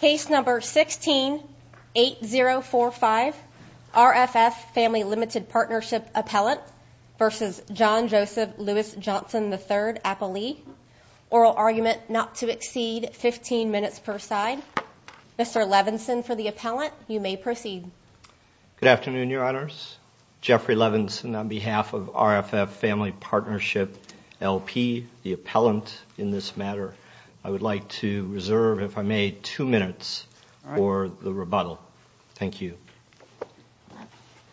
Case number 16-8045, RFF Family Limited Partnership Appellant versus John Joseph Louis Johnson III, Appellee. Oral argument not to exceed 15 minutes per side. Mr. Levinson for the appellant. You may proceed. Good afternoon, Your Honors. Jeffrey Levinson on behalf of RFF Family Partnership, LP, the appellant in this matter. I would like to reserve, if I may, two minutes for the rebuttal. Thank you.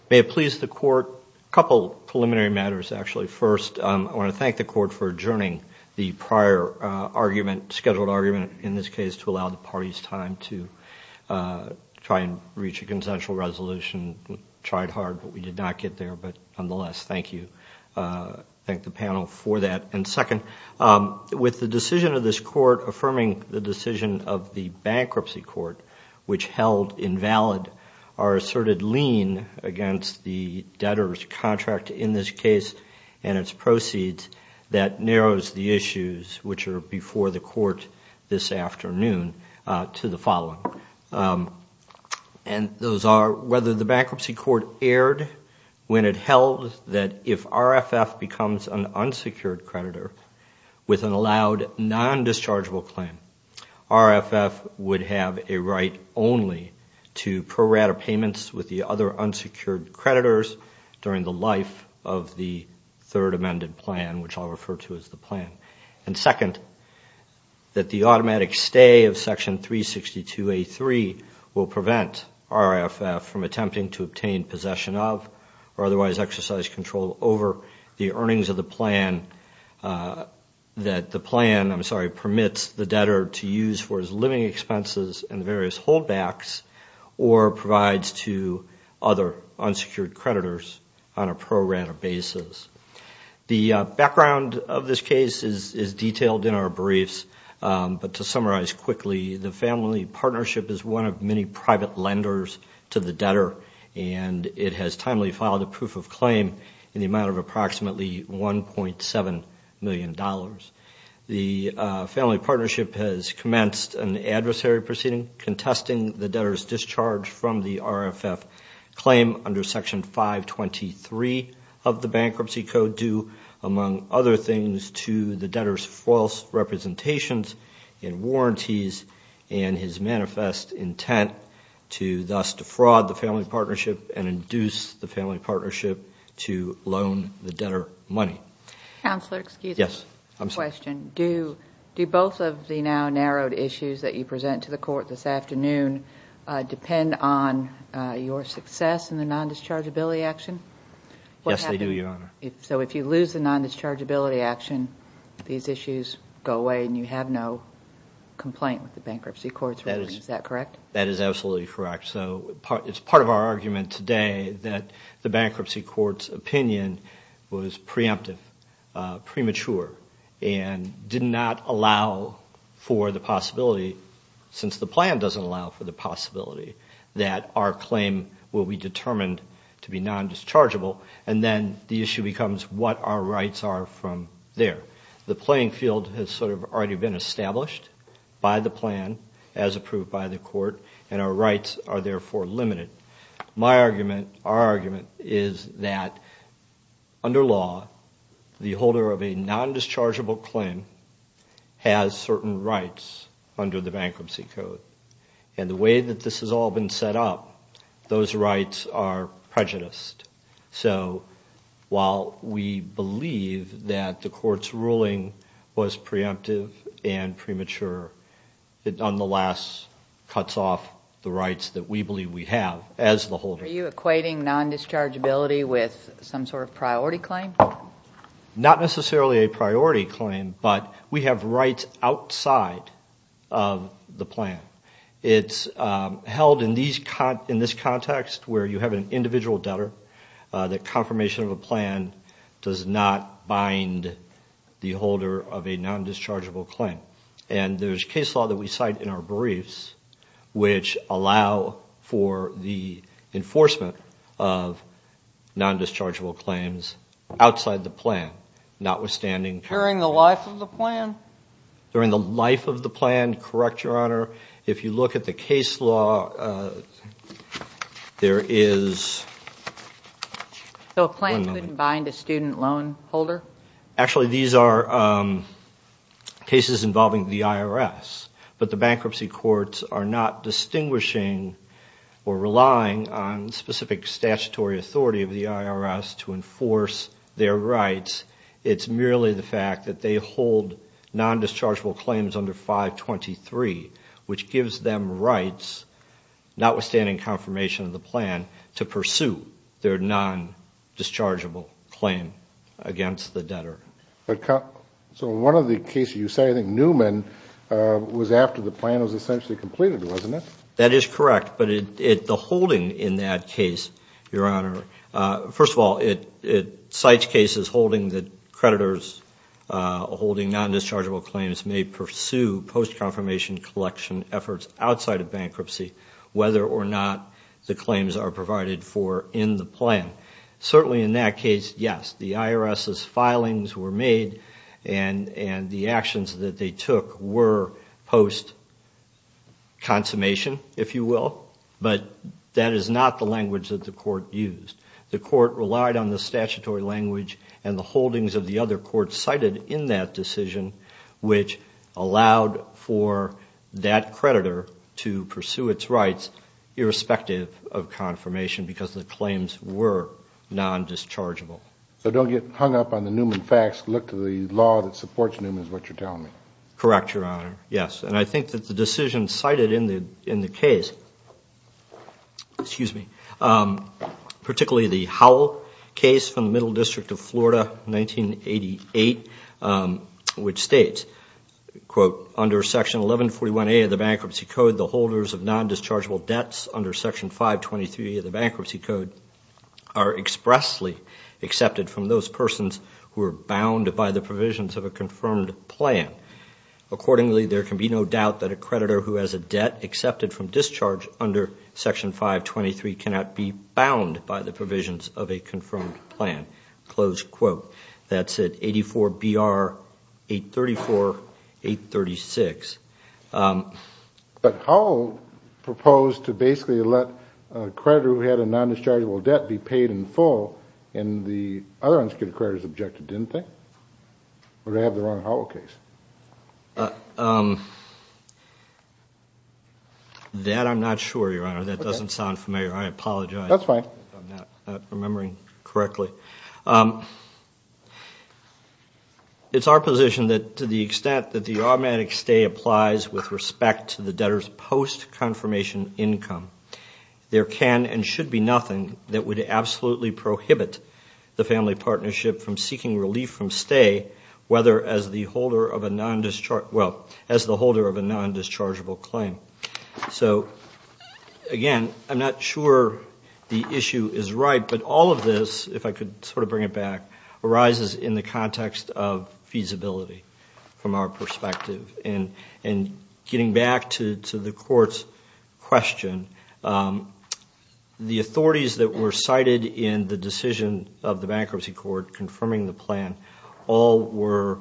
May it please the Court, a couple preliminary matters actually. First, I want to thank the Court for adjourning the prior argument, scheduled argument in this case to allow the parties time to try and reach a consensual resolution. We tried hard, but we did not get there. But nonetheless, thank you. Thank the panel for that. And second, with the decision of this Court affirming the decision of the Bankruptcy Court, which held invalid our asserted lien against the debtor's contract in this case and its proceeds that narrows the issues, which are before the Court this afternoon, to the following. And those are whether the Bankruptcy Court erred when it held that if RFF becomes an unsecured creditor with an allowed non-dischargeable claim, RFF would have a right only to pro rata payments with the other unsecured creditors during the life of the third amended plan, which I'll refer to as the plan. And second, that the automatic stay of Section 362A3 will prevent RFF from attempting to obtain possession of or otherwise exercise control over the earnings of the plan that the plan, I'm sorry, permits the debtor to use for his living expenses and various holdbacks or provides to other unsecured creditors on a pro rata basis. The background of this case is detailed in our briefs, but to summarize quickly, the Family Partnership is one of many private lenders to the debtor and it has timely filed a proof of claim in the amount of approximately $1.7 million. The Family Partnership has commenced an adversary proceeding contesting the debtor's discharge from the RFF claim under Section 523 of the Bankruptcy Code due, among other things, to the debtor's false representations and warranties and his manifest intent to thus defraud the Family Partnership and induce the Family Partnership to loan the debtor money. Counselor, excuse me. Yes. I have a question. Do both of the now narrowed issues that you present to the Court this afternoon depend on your success in the nondischargeability action? Yes, they do, Your Honor. So if you lose the nondischargeability action, these issues go away and you have no complaint with the Bankruptcy Court's ruling. Is that correct? That is absolutely correct. So it's part of our argument today that the Bankruptcy Court's opinion was preemptive, premature, and did not allow for the possibility, since the plan doesn't allow for the possibility, that our claim will be determined to be nondischargeable and then the issue becomes what our rights are from there. The playing field has sort of already been established by the plan as approved by the Court and our rights are therefore limited. My argument, our argument, is that under law, the holder of a nondischargeable claim has certain rights under the Bankruptcy Code. And the way that this has all been set up, those rights are prejudiced. So while we believe that the Court's ruling was preemptive and premature, it nonetheless cuts off the rights that we believe we have as the holder. Are you equating nondischargeability with some sort of priority claim? Not necessarily a priority claim, but we have rights outside of the plan. It's held in this context where you have an individual debtor, the confirmation of a plan does not bind the holder of a nondischargeable claim. And there's case law that we cite in our briefs which allow for the enforcement of nondischargeable claims outside the plan, notwithstanding. During the life of the plan? During the life of the plan, correct, Your Honor. If you look at the case law, there is. So a plan couldn't bind a student loan holder? Actually, these are cases involving the IRS, but the bankruptcy courts are not distinguishing or relying on specific statutory authority of the IRS to enforce their rights. It's merely the fact that they hold nondischargeable claims under 523, which gives them rights, notwithstanding confirmation of the plan, to pursue their nondischargeable claim against the debtor. So one of the cases you say, I think, Newman was after the plan was essentially completed, wasn't it? That is correct, but the holding in that case, Your Honor, first of all, it cites cases holding that creditors holding nondischargeable claims may pursue post-confirmation collection efforts outside of bankruptcy, whether or not the claims are provided for in the plan. Certainly in that case, yes, the IRS's filings were made and the actions that they took were post-consummation, if you will, but that is not the language that the court used. The court relied on the statutory language and the holdings of the other courts cited in that decision, which allowed for that creditor to pursue its rights, irrespective of confirmation because the claims were nondischargeable. So don't get hung up on the Newman facts. Look to the law that supports Newman is what you're telling me. Correct, Your Honor, yes, and I think that the decision cited in the case, excuse me, particularly the Howell case from the Middle District of Florida, 1988, which states, quote, under Section 1141A of the Bankruptcy Code, the holders of nondischargeable debts under Section 523 of the Bankruptcy Code are expressly accepted from those persons who are bound by the provisions of a confirmed plan. Accordingly, there can be no doubt that a creditor who has a debt accepted from discharge under Section 523 cannot be bound by the provisions of a confirmed plan. Close quote. That's it, 84-BR-834-836. But Howell proposed to basically let a creditor who had a nondischargeable debt be paid in full, and the other unsecured creditors objected, didn't they? Or did I have the wrong Howell case? That I'm not sure, Your Honor. That doesn't sound familiar. I apologize. That's fine. I'm not remembering correctly. It's our position that to the extent that the automatic stay applies with respect to the debtor's post-confirmation income, there can and should be nothing that would absolutely prohibit the family partnership from seeking relief from stay, whether as the holder of a nondischargeable claim. So, again, I'm not sure the issue is right, but all of this, if I could sort of bring it back, arises in the context of feasibility from our perspective. And getting back to the Court's question, the authorities that were cited in the decision of the bankruptcy court confirming the plan all were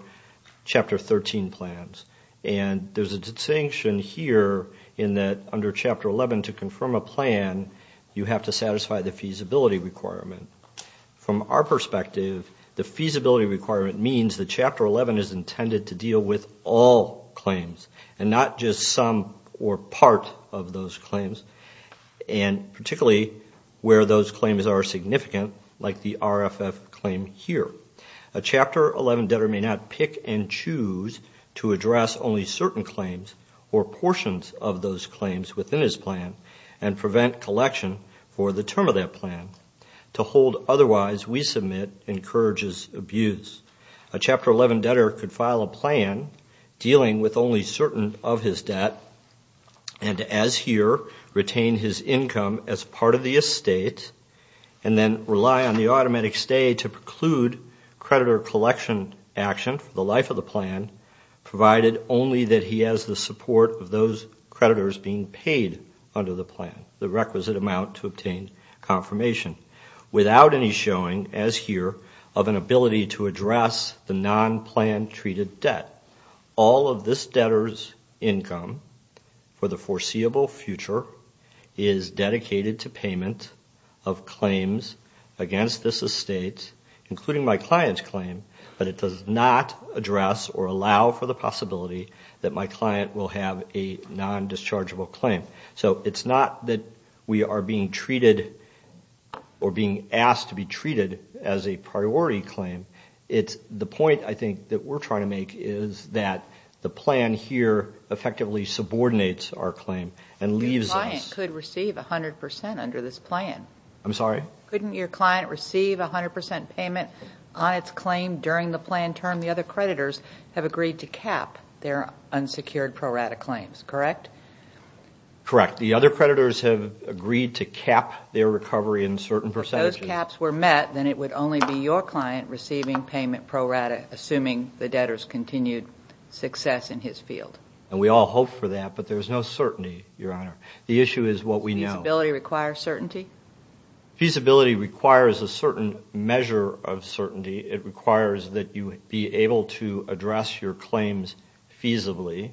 Chapter 13 plans. And there's a distinction here in that under Chapter 11 to confirm a plan, you have to satisfy the feasibility requirement. From our perspective, the feasibility requirement means that Chapter 11 is intended to deal with all claims and not just some or part of those claims, and particularly where those claims are significant, like the RFF claim here. A Chapter 11 debtor may not pick and choose to address only certain claims or portions of those claims within his plan and prevent collection for the term of that plan. To hold otherwise, we submit, encourages abuse. A Chapter 11 debtor could file a plan dealing with only certain of his debt and, as here, retain his income as part of the estate and then rely on the automatic stay to preclude creditor collection action for the life of the plan, provided only that he has the support of those creditors being paid under the plan, the requisite amount to obtain confirmation, without any showing, as here, of an ability to address the non-plan treated debt. All of this debtor's income for the foreseeable future is dedicated to payment of claims against this estate, including my client's claim, but it does not address or allow for the possibility that my client will have a non-dischargeable claim. So it's not that we are being treated or being asked to be treated as a priority claim. The point, I think, that we're trying to make is that the plan here effectively subordinates our claim and leaves us. Your client could receive 100% under this plan. I'm sorry? Couldn't your client receive 100% payment on its claim during the plan term? The other creditors have agreed to cap their unsecured pro rata claims, correct? Correct. The other creditors have agreed to cap their recovery in certain percentages. If those caps were met, then it would only be your client receiving payment pro rata, assuming the debtor's continued success in his field. And we all hope for that, but there's no certainty, Your Honor. The issue is what we know. Does feasibility require certainty? Feasibility requires a certain measure of certainty. It requires that you be able to address your claims feasibly,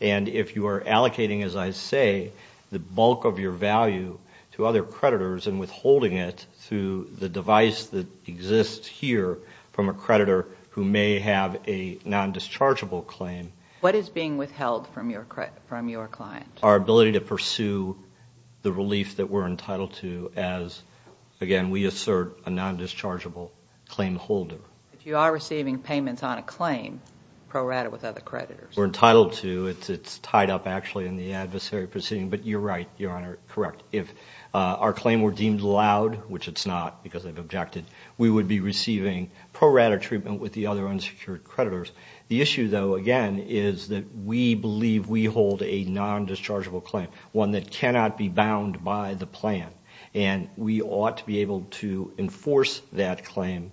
and if you are allocating, as I say, the bulk of your value to other creditors and withholding it through the device that exists here from a creditor who may have a non-dischargeable claim. What is being withheld from your client? Our ability to pursue the relief that we're entitled to as, again, we assert a non-dischargeable claim holder. If you are receiving payments on a claim pro rata with other creditors? We're entitled to. It's tied up, actually, in the adversary proceeding. But you're right, Your Honor, correct. If our claim were deemed allowed, which it's not because I've objected, we would be receiving pro rata treatment with the other unsecured creditors. The issue, though, again, is that we believe we hold a non-dischargeable claim, one that cannot be bound by the plan, and we ought to be able to enforce that claim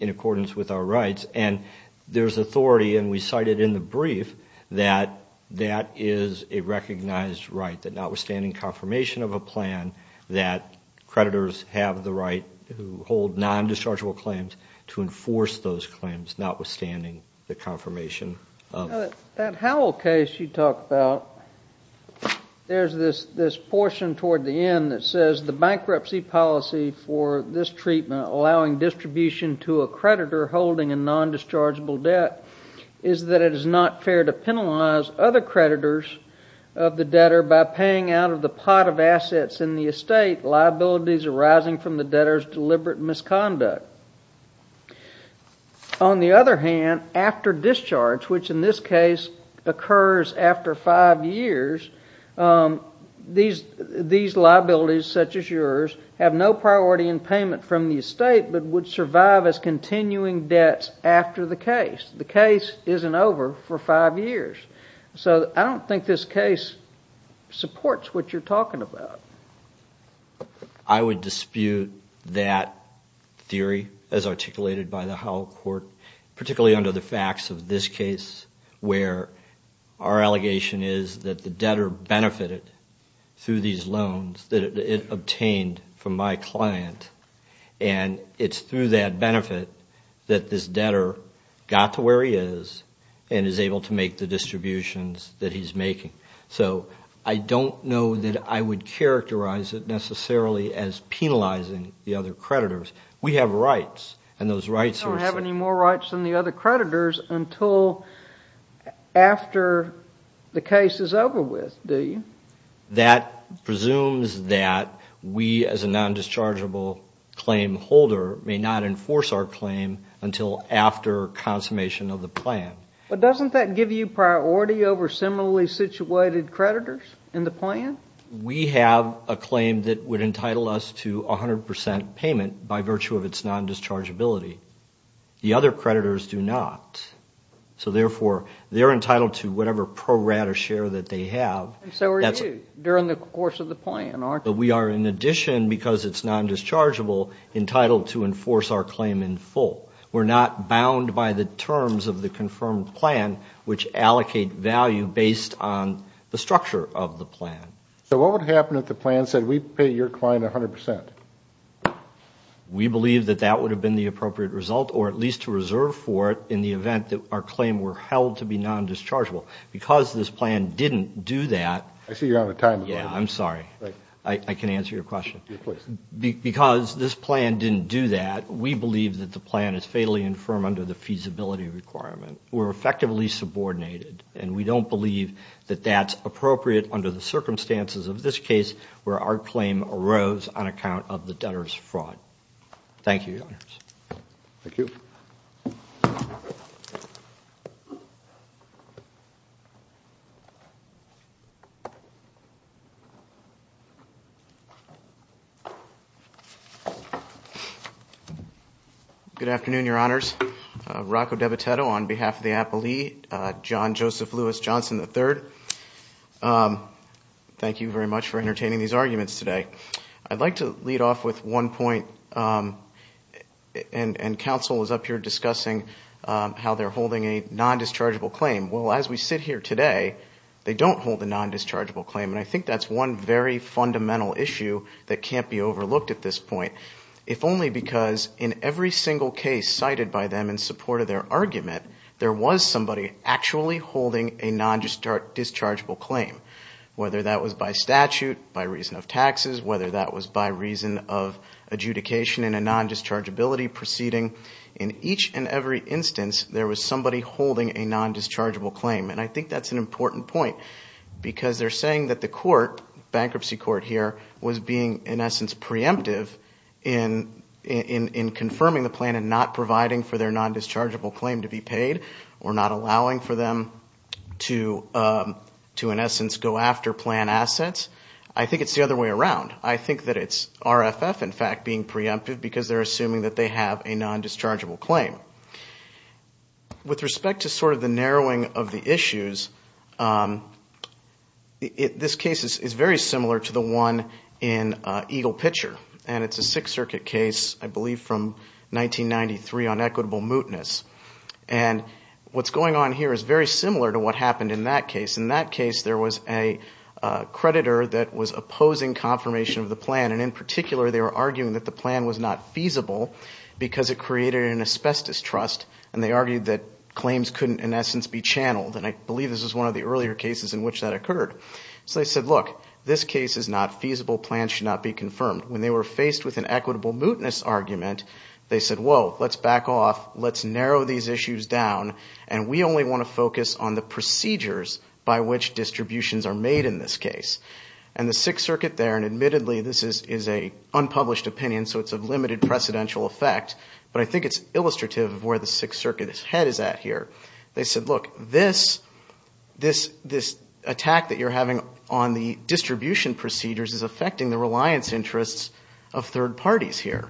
in accordance with our rights. And there's authority, and we cited in the brief, that that is a recognized right, that notwithstanding confirmation of a plan, that creditors have the right to hold non-dischargeable claims to enforce those claims, notwithstanding the confirmation of a plan. That Howell case you talk about, there's this portion toward the end that says, the bankruptcy policy for this treatment, allowing distribution to a creditor holding a non-dischargeable debt, is that it is not fair to penalize other creditors of the debtor by paying out of the pot of assets in the estate, liabilities arising from the debtor's deliberate misconduct. On the other hand, after discharge, which in this case occurs after five years, these liabilities, such as yours, have no priority in payment from the estate but would survive as continuing debts after the case. The case isn't over for five years. So I don't think this case supports what you're talking about. I would dispute that theory as articulated by the Howell court, particularly under the facts of this case, where our allegation is that the debtor benefited through these loans that it obtained from my client. And it's through that benefit that this debtor got to where he is and is able to make the distributions that he's making. So I don't know that I would characterize it necessarily as penalizing the other creditors. We have rights, and those rights are set. You don't have any more rights than the other creditors until after the case is over with, do you? That presumes that we, as a non-dischargeable claim holder, may not enforce our claim until after consummation of the plan. But doesn't that give you priority over similarly situated creditors in the plan? We have a claim that would entitle us to 100% payment by virtue of its non-dischargeability. The other creditors do not. So, therefore, they're entitled to whatever pro-rata share that they have. But we are, in addition, because it's non-dischargeable, entitled to enforce our claim in full. We're not bound by the terms of the confirmed plan, which allocate value based on the structure of the plan. So what would happen if the plan said, we pay your client 100%? We believe that that would have been the appropriate result, or at least to reserve for it in the event that our claim were held to be non-dischargeable. Because this plan didn't do that. I see you're out of time. Yeah, I'm sorry. I can answer your question. Because this plan didn't do that, we believe that the plan is fatally infirm under the feasibility requirement. We're effectively subordinated, and we don't believe that that's appropriate under the circumstances of this case where our claim arose on account of the debtor's fraud. Thank you, Your Honors. Thank you. Good afternoon, Your Honors. Rocco Debitetto on behalf of the Apolli, John Joseph Lewis Johnson III. Thank you very much for entertaining these arguments today. I'd like to lead off with one point, and counsel is up here discussing how they're holding a non-dischargeable claim. Well, as we sit here today, they don't hold a non-dischargeable claim. And I think that's one very fundamental issue that can't be overlooked at this point, if only because in every single case cited by them in support of their argument, there was somebody actually holding a non-dischargeable claim, whether that was by statute, by reason of taxes, whether that was by reason of adjudication in a non-dischargeability proceeding. In each and every instance, there was somebody holding a non-dischargeable claim. And I think that's an important point because they're saying that the court, bankruptcy court here, was being, in essence, preemptive in confirming the plan and not providing for their non-dischargeable claim to be paid or not allowing for them to, in essence, go after plan assets. I think it's the other way around. I think that it's RFF, in fact, being preemptive because they're assuming that they have a non-dischargeable claim. With respect to sort of the narrowing of the issues, this case is very similar to the one in Eagle Pitcher. And it's a Sixth Circuit case, I believe, from 1993 on equitable mootness. And what's going on here is very similar to what happened in that case. In that case, there was a creditor that was opposing confirmation of the plan. And in particular, they were arguing that the plan was not feasible because it created an asbestos trust. And they argued that claims couldn't, in essence, be channeled. And I believe this was one of the earlier cases in which that occurred. So they said, look, this case is not feasible. Plans should not be confirmed. When they were faced with an equitable mootness argument, they said, whoa, let's back off, let's narrow these issues down, and we only want to focus on the procedures by which distributions are made in this case. And the Sixth Circuit there, and admittedly this is an unpublished opinion, so it's of limited precedential effect, but I think it's illustrative of where the Sixth Circuit's head is at here. They said, look, this attack that you're having on the distribution procedures is affecting the reliance interests of third parties here.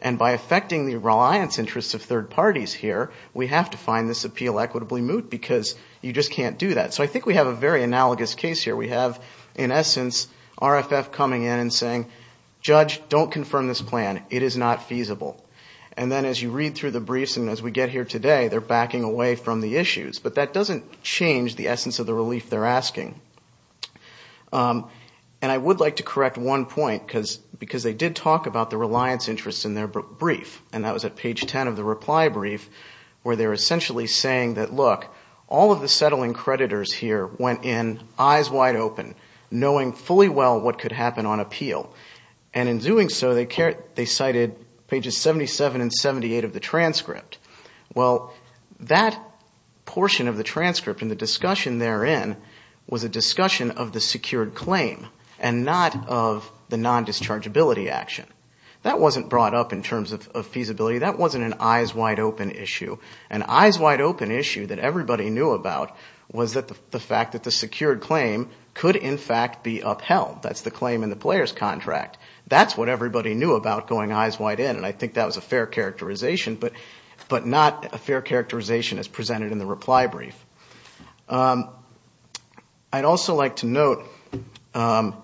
And by affecting the reliance interests of third parties here, we have to find this appeal equitably moot because you just can't do that. So I think we have a very analogous case here. We have, in essence, RFF coming in and saying, judge, don't confirm this plan. It is not feasible. And then as you read through the briefs and as we get here today, they're backing away from the issues. But that doesn't change the essence of the relief they're asking. And I would like to correct one point, because they did talk about the reliance interests in their brief, and that was at page 10 of the reply brief, where they're essentially saying that, look, all of the settling creditors here went in eyes wide open, knowing fully well what could happen on appeal. And in doing so, they cited pages 77 and 78 of the transcript. Well, that portion of the transcript and the discussion therein was a discussion of the secured claim and not of the non-dischargeability action. That wasn't brought up in terms of feasibility. That wasn't an eyes wide open issue. An eyes wide open issue that everybody knew about was the fact that the secured claim could, in fact, be upheld. That's the claim in the player's contract. That's what everybody knew about going eyes wide in, and I think that was a fair characterization, but not a fair characterization as presented in the reply brief. I'd also like to note that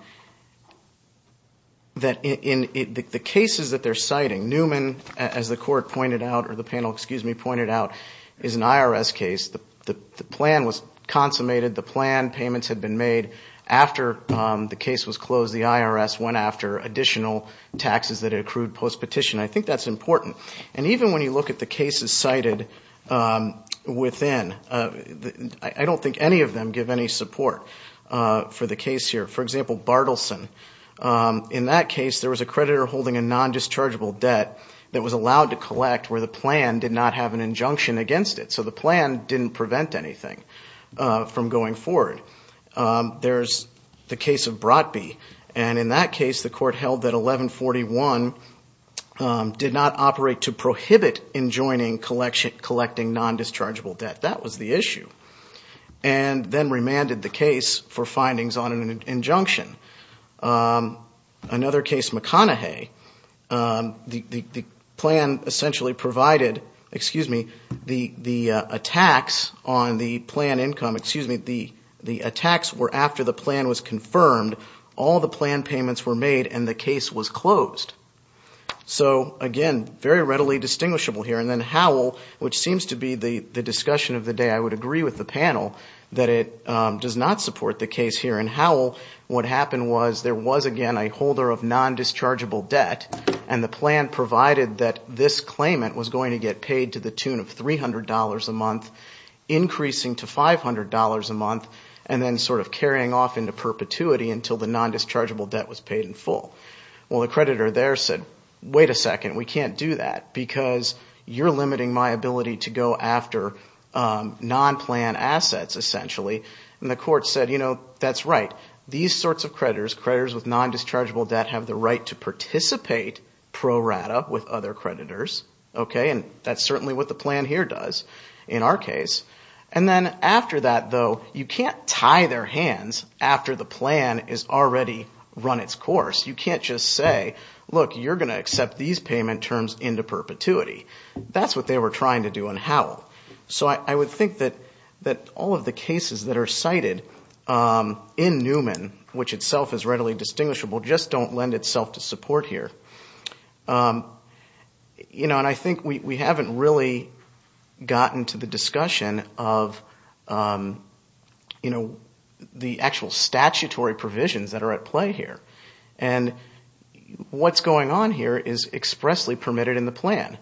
in the cases that they're citing, Newman, as the panel pointed out, is an IRS case. The plan was consummated. The plan payments had been made. After the case was closed, the IRS went after additional taxes that it accrued post-petition. I think that's important. And even when you look at the cases cited within, I don't think any of them give any support for the case here. For example, Bartleson. In that case, there was a creditor holding a non-dischargeable debt that was allowed to collect where the plan did not have an injunction against it. So the plan didn't prevent anything from going forward. There's the case of Brotby, and in that case, the court held that 1141 did not operate to prohibit enjoining collecting non-dischargeable debt. That was the issue, and then remanded the case for findings on an injunction. Another case, McConaughey. The plan essentially provided, excuse me, the attacks on the plan income. Excuse me, the attacks were after the plan was confirmed. All the plan payments were made, and the case was closed. So, again, very readily distinguishable here. And then Howell, which seems to be the discussion of the day. I would agree with the panel that it does not support the case here. In Howell, what happened was there was, again, a holder of non-dischargeable debt, and the plan provided that this claimant was going to get paid to the tune of $300 a month, increasing to $500 a month, and then sort of carrying off into perpetuity until the non-dischargeable debt was paid in full. Well, the creditor there said, wait a second, we can't do that because you're limiting my ability to go after non-plan assets, essentially. And the court said, you know, that's right. These sorts of creditors, creditors with non-dischargeable debt, have the right to participate pro rata with other creditors, and that's certainly what the plan here does in our case. And then after that, though, you can't tie their hands after the plan has already run its course. You can't just say, look, you're going to accept these payment terms into perpetuity. That's what they were trying to do in Howell. So I would think that all of the cases that are cited in Newman, which itself is readily distinguishable, just don't lend itself to support here. And I think we haven't really gotten to the discussion of the actual statutory provisions that are at play here. And what's going on here is expressly permitted in the plan.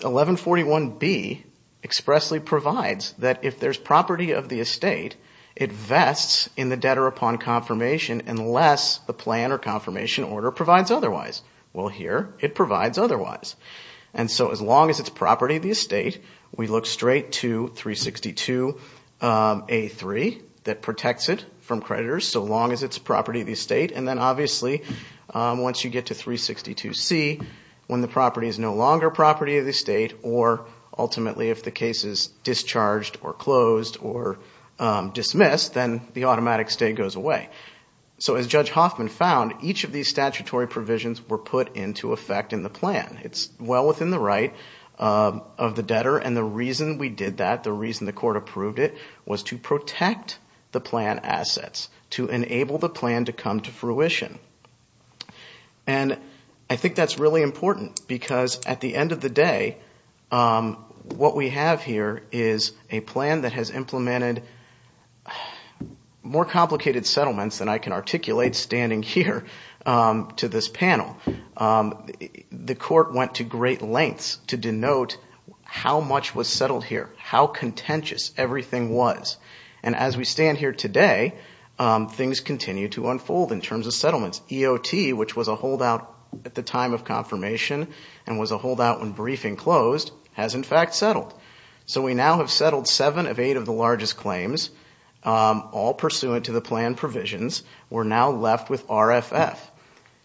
1141B expressly provides that if there's property of the estate, it vests in the debtor upon confirmation unless the plan or confirmation order provides otherwise. Well, here it provides otherwise. And so as long as it's property of the estate, we look straight to 362A3 that protects it from creditors And then obviously once you get to 362C, when the property is no longer property of the estate, or ultimately if the case is discharged or closed or dismissed, then the automatic stay goes away. So as Judge Hoffman found, each of these statutory provisions were put into effect in the plan. It's well within the right of the debtor. And the reason we did that, the reason the court approved it, was to protect the plan assets, to enable the plan to come to fruition. And I think that's really important because at the end of the day, what we have here is a plan that has implemented more complicated settlements than I can articulate standing here to this panel. The court went to great lengths to denote how much was settled here, how contentious everything was. And as we stand here today, things continue to unfold in terms of settlements. EOT, which was a holdout at the time of confirmation and was a holdout when briefing closed, has in fact settled. So we now have settled seven of eight of the largest claims, all pursuant to the plan provisions. We're now left with RFF.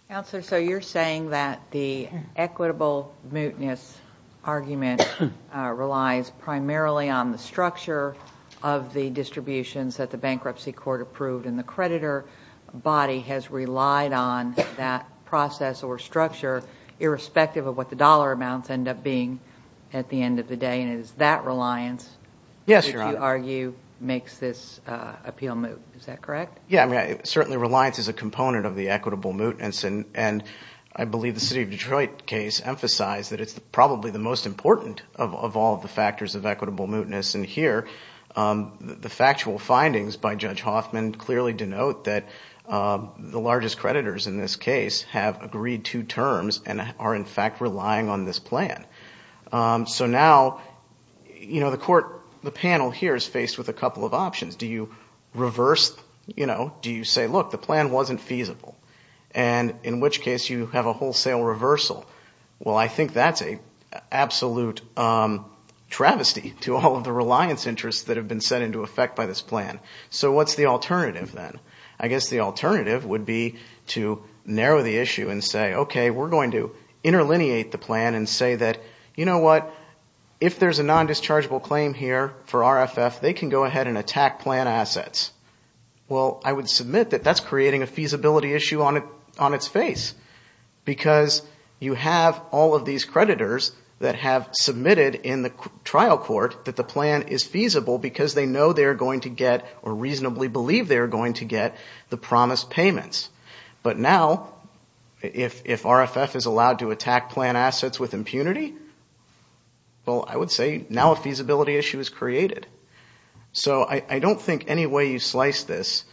Counselor, so you're saying that the equitable mootness argument relies primarily on the structure of the distributions that the bankruptcy court approved. And the creditor body has relied on that process or structure, irrespective of what the dollar amounts end up being at the end of the day. And it is that reliance, which you argue, makes this appeal moot. Is that correct? Yeah, certainly reliance is a component of the equitable mootness. And I believe the city of Detroit case emphasized that it's probably the most important of all the factors of equitable mootness. And here the factual findings by Judge Hoffman clearly denote that the largest creditors in this case have agreed to terms and are in fact relying on this plan. So now the panel here is faced with a couple of options. Do you reverse – do you say, look, the plan wasn't feasible? And in which case you have a wholesale reversal. Well, I think that's an absolute travesty to all of the reliance interests that have been set into effect by this plan. So what's the alternative then? I guess the alternative would be to narrow the issue and say, okay, we're going to interlineate the plan and say that, you know what? If there's a non-dischargeable claim here for RFF, they can go ahead and attack plan assets. Well, I would submit that that's creating a feasibility issue on its face. Because you have all of these creditors that have submitted in the trial court that the plan is feasible because they know they're going to get or reasonably believe they're going to get the promised payments. But now if RFF is allowed to attack plan assets with impunity, well, I would say now a feasibility issue is created. So I don't think any way you slice this,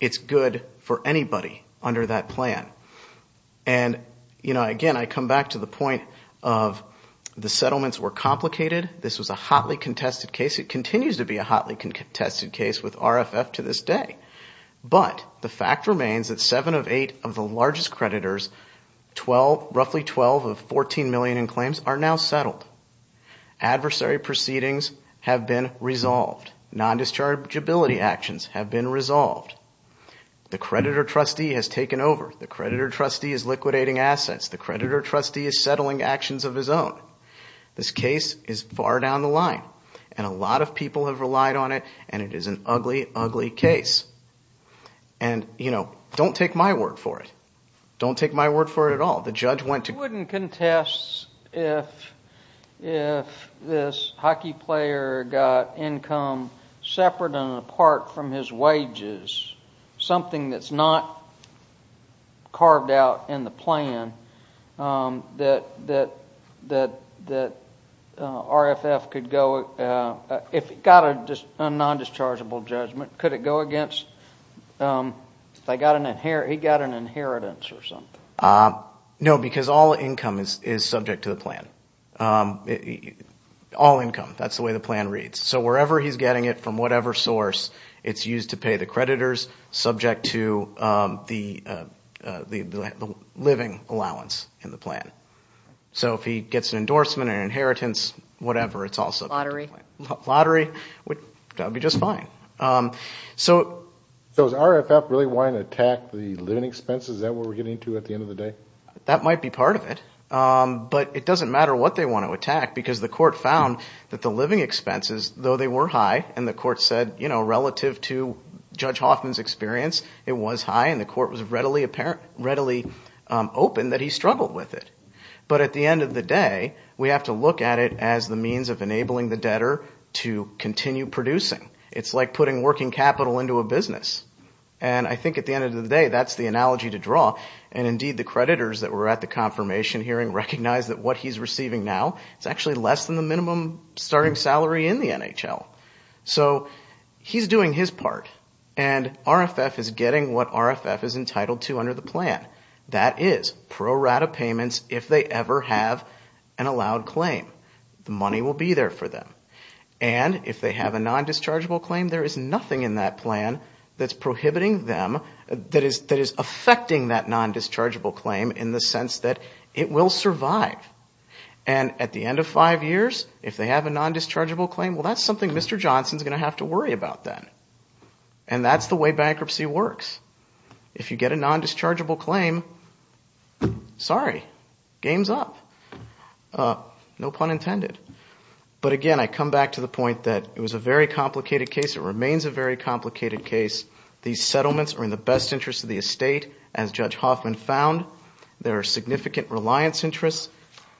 it's good for anybody under that plan. And again, I come back to the point of the settlements were complicated. This was a hotly contested case. It continues to be a hotly contested case with RFF to this day. But the fact remains that seven of eight of the largest creditors, roughly 12 of 14 million in claims, are now settled. Adversary proceedings have been resolved. Non-dischargeability actions have been resolved. The creditor trustee has taken over. The creditor trustee is liquidating assets. The creditor trustee is settling actions of his own. This case is far down the line. And a lot of people have relied on it. And it is an ugly, ugly case. And, you know, don't take my word for it. Don't take my word for it at all. The judge went to He wouldn't contest if this hockey player got income separate and apart from his wages, something that's not carved out in the plan, that RFF could go, if it got a non-dischargeable judgment, could it go against, if he got an inheritance or something? No, because all income is subject to the plan. All income. That's the way the plan reads. So wherever he's getting it from whatever source, it's used to pay the creditors, subject to the living allowance in the plan. So if he gets an endorsement, an inheritance, whatever, it's also Lottery. Lottery, that would be just fine. So is RFF really wanting to attack the living expenses? Is that what we're getting to at the end of the day? That might be part of it. But it doesn't matter what they want to attack because the court found that the living expenses, though they were high and the court said, you know, relative to Judge Hoffman's experience, it was high and the court was readily open that he struggled with it. But at the end of the day, we have to look at it as the means of enabling the debtor to continue producing. It's like putting working capital into a business. And I think at the end of the day, that's the analogy to draw. And indeed, the creditors that were at the confirmation hearing recognized that what he's receiving now, it's actually less than the minimum starting salary in the NHL. So he's doing his part. And RFF is getting what RFF is entitled to under the plan. That is pro rata payments if they ever have an allowed claim. The money will be there for them. And if they have a non-dischargeable claim, there is nothing in that plan that's prohibiting them, that is affecting that non-dischargeable claim in the sense that it will survive. And at the end of five years, if they have a non-dischargeable claim, well, that's something Mr. Johnson is going to have to worry about then. And that's the way bankruptcy works. If you get a non-dischargeable claim, sorry, game's up. No pun intended. But again, I come back to the point that it was a very complicated case. It remains a very complicated case. These settlements are in the best interest of the estate, as Judge Hoffman found. There are significant reliance interests.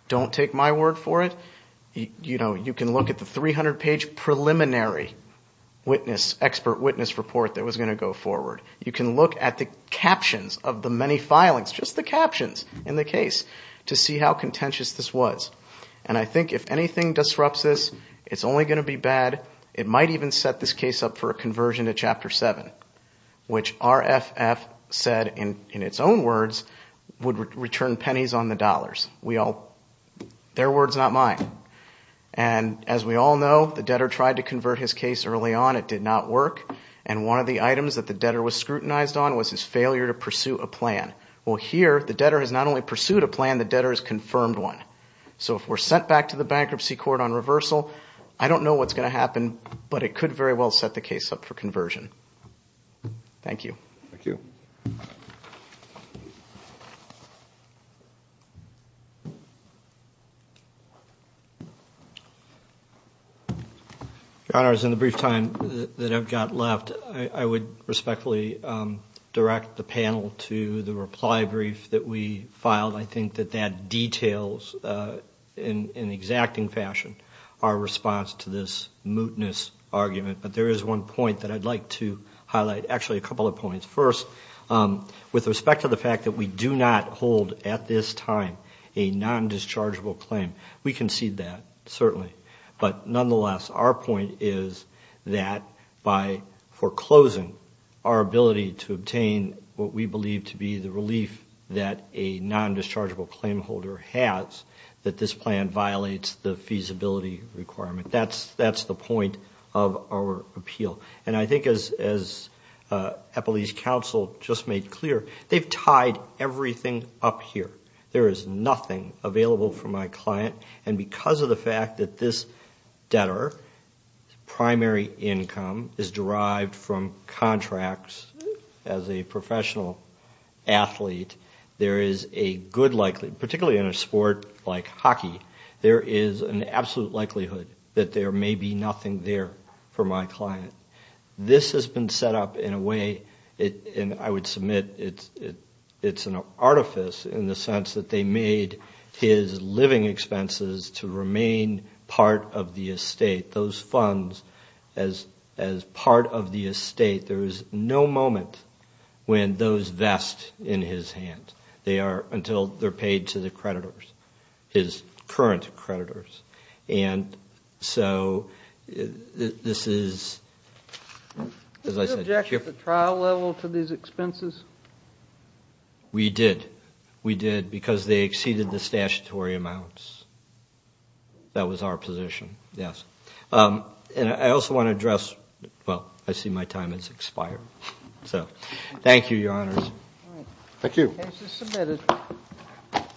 Don't take my word for it. You can look at the 300-page preliminary witness, expert witness report that was going to go forward. You can look at the captions of the many filings, just the captions in the case, to see how contentious this was. And I think if anything disrupts this, it's only going to be bad. It might even set this case up for a conversion to Chapter 7, which RFF said in its own words would return pennies on the dollars. Their words, not mine. And as we all know, the debtor tried to convert his case early on. It did not work. And one of the items that the debtor was scrutinized on was his failure to pursue a plan. Well, here the debtor has not only pursued a plan, the debtor has confirmed one. So if we're sent back to the bankruptcy court on reversal, I don't know what's going to happen, but it could very well set the case up for conversion. Thank you. Thank you. Your Honors, in the brief time that I've got left, I would respectfully direct the panel to the reply brief that we filed. I think that that details in exacting fashion our response to this mootness argument. But there is one point that I'd like to highlight. Actually, a couple of points. First, with respect to the fact that we do not hold at this time a non-dischargeable claim, we concede that, certainly. But nonetheless, our point is that by foreclosing, our ability to obtain what we believe to be the relief that a non-dischargeable claim holder has, that this plan violates the feasibility requirement. That's the point of our appeal. And I think as Eppley's counsel just made clear, they've tied everything up here. There is nothing available for my client. And because of the fact that this debtor's primary income is derived from contracts as a professional athlete, there is a good likelihood, particularly in a sport like hockey, there is an absolute likelihood that there may be nothing there for my client. This has been set up in a way, and I would submit it's an artifice in the sense that they made his living expenses to remain part of the estate. Those funds, as part of the estate, there is no moment when those vest in his hands. They are until they're paid to the creditors, his current creditors. And so this is, as I said, Do you object at the trial level to these expenses? We did. We did because they exceeded the statutory amounts. That was our position. Yes. And I also want to address, well, I see my time has expired. So thank you, Your Honors. Thank you.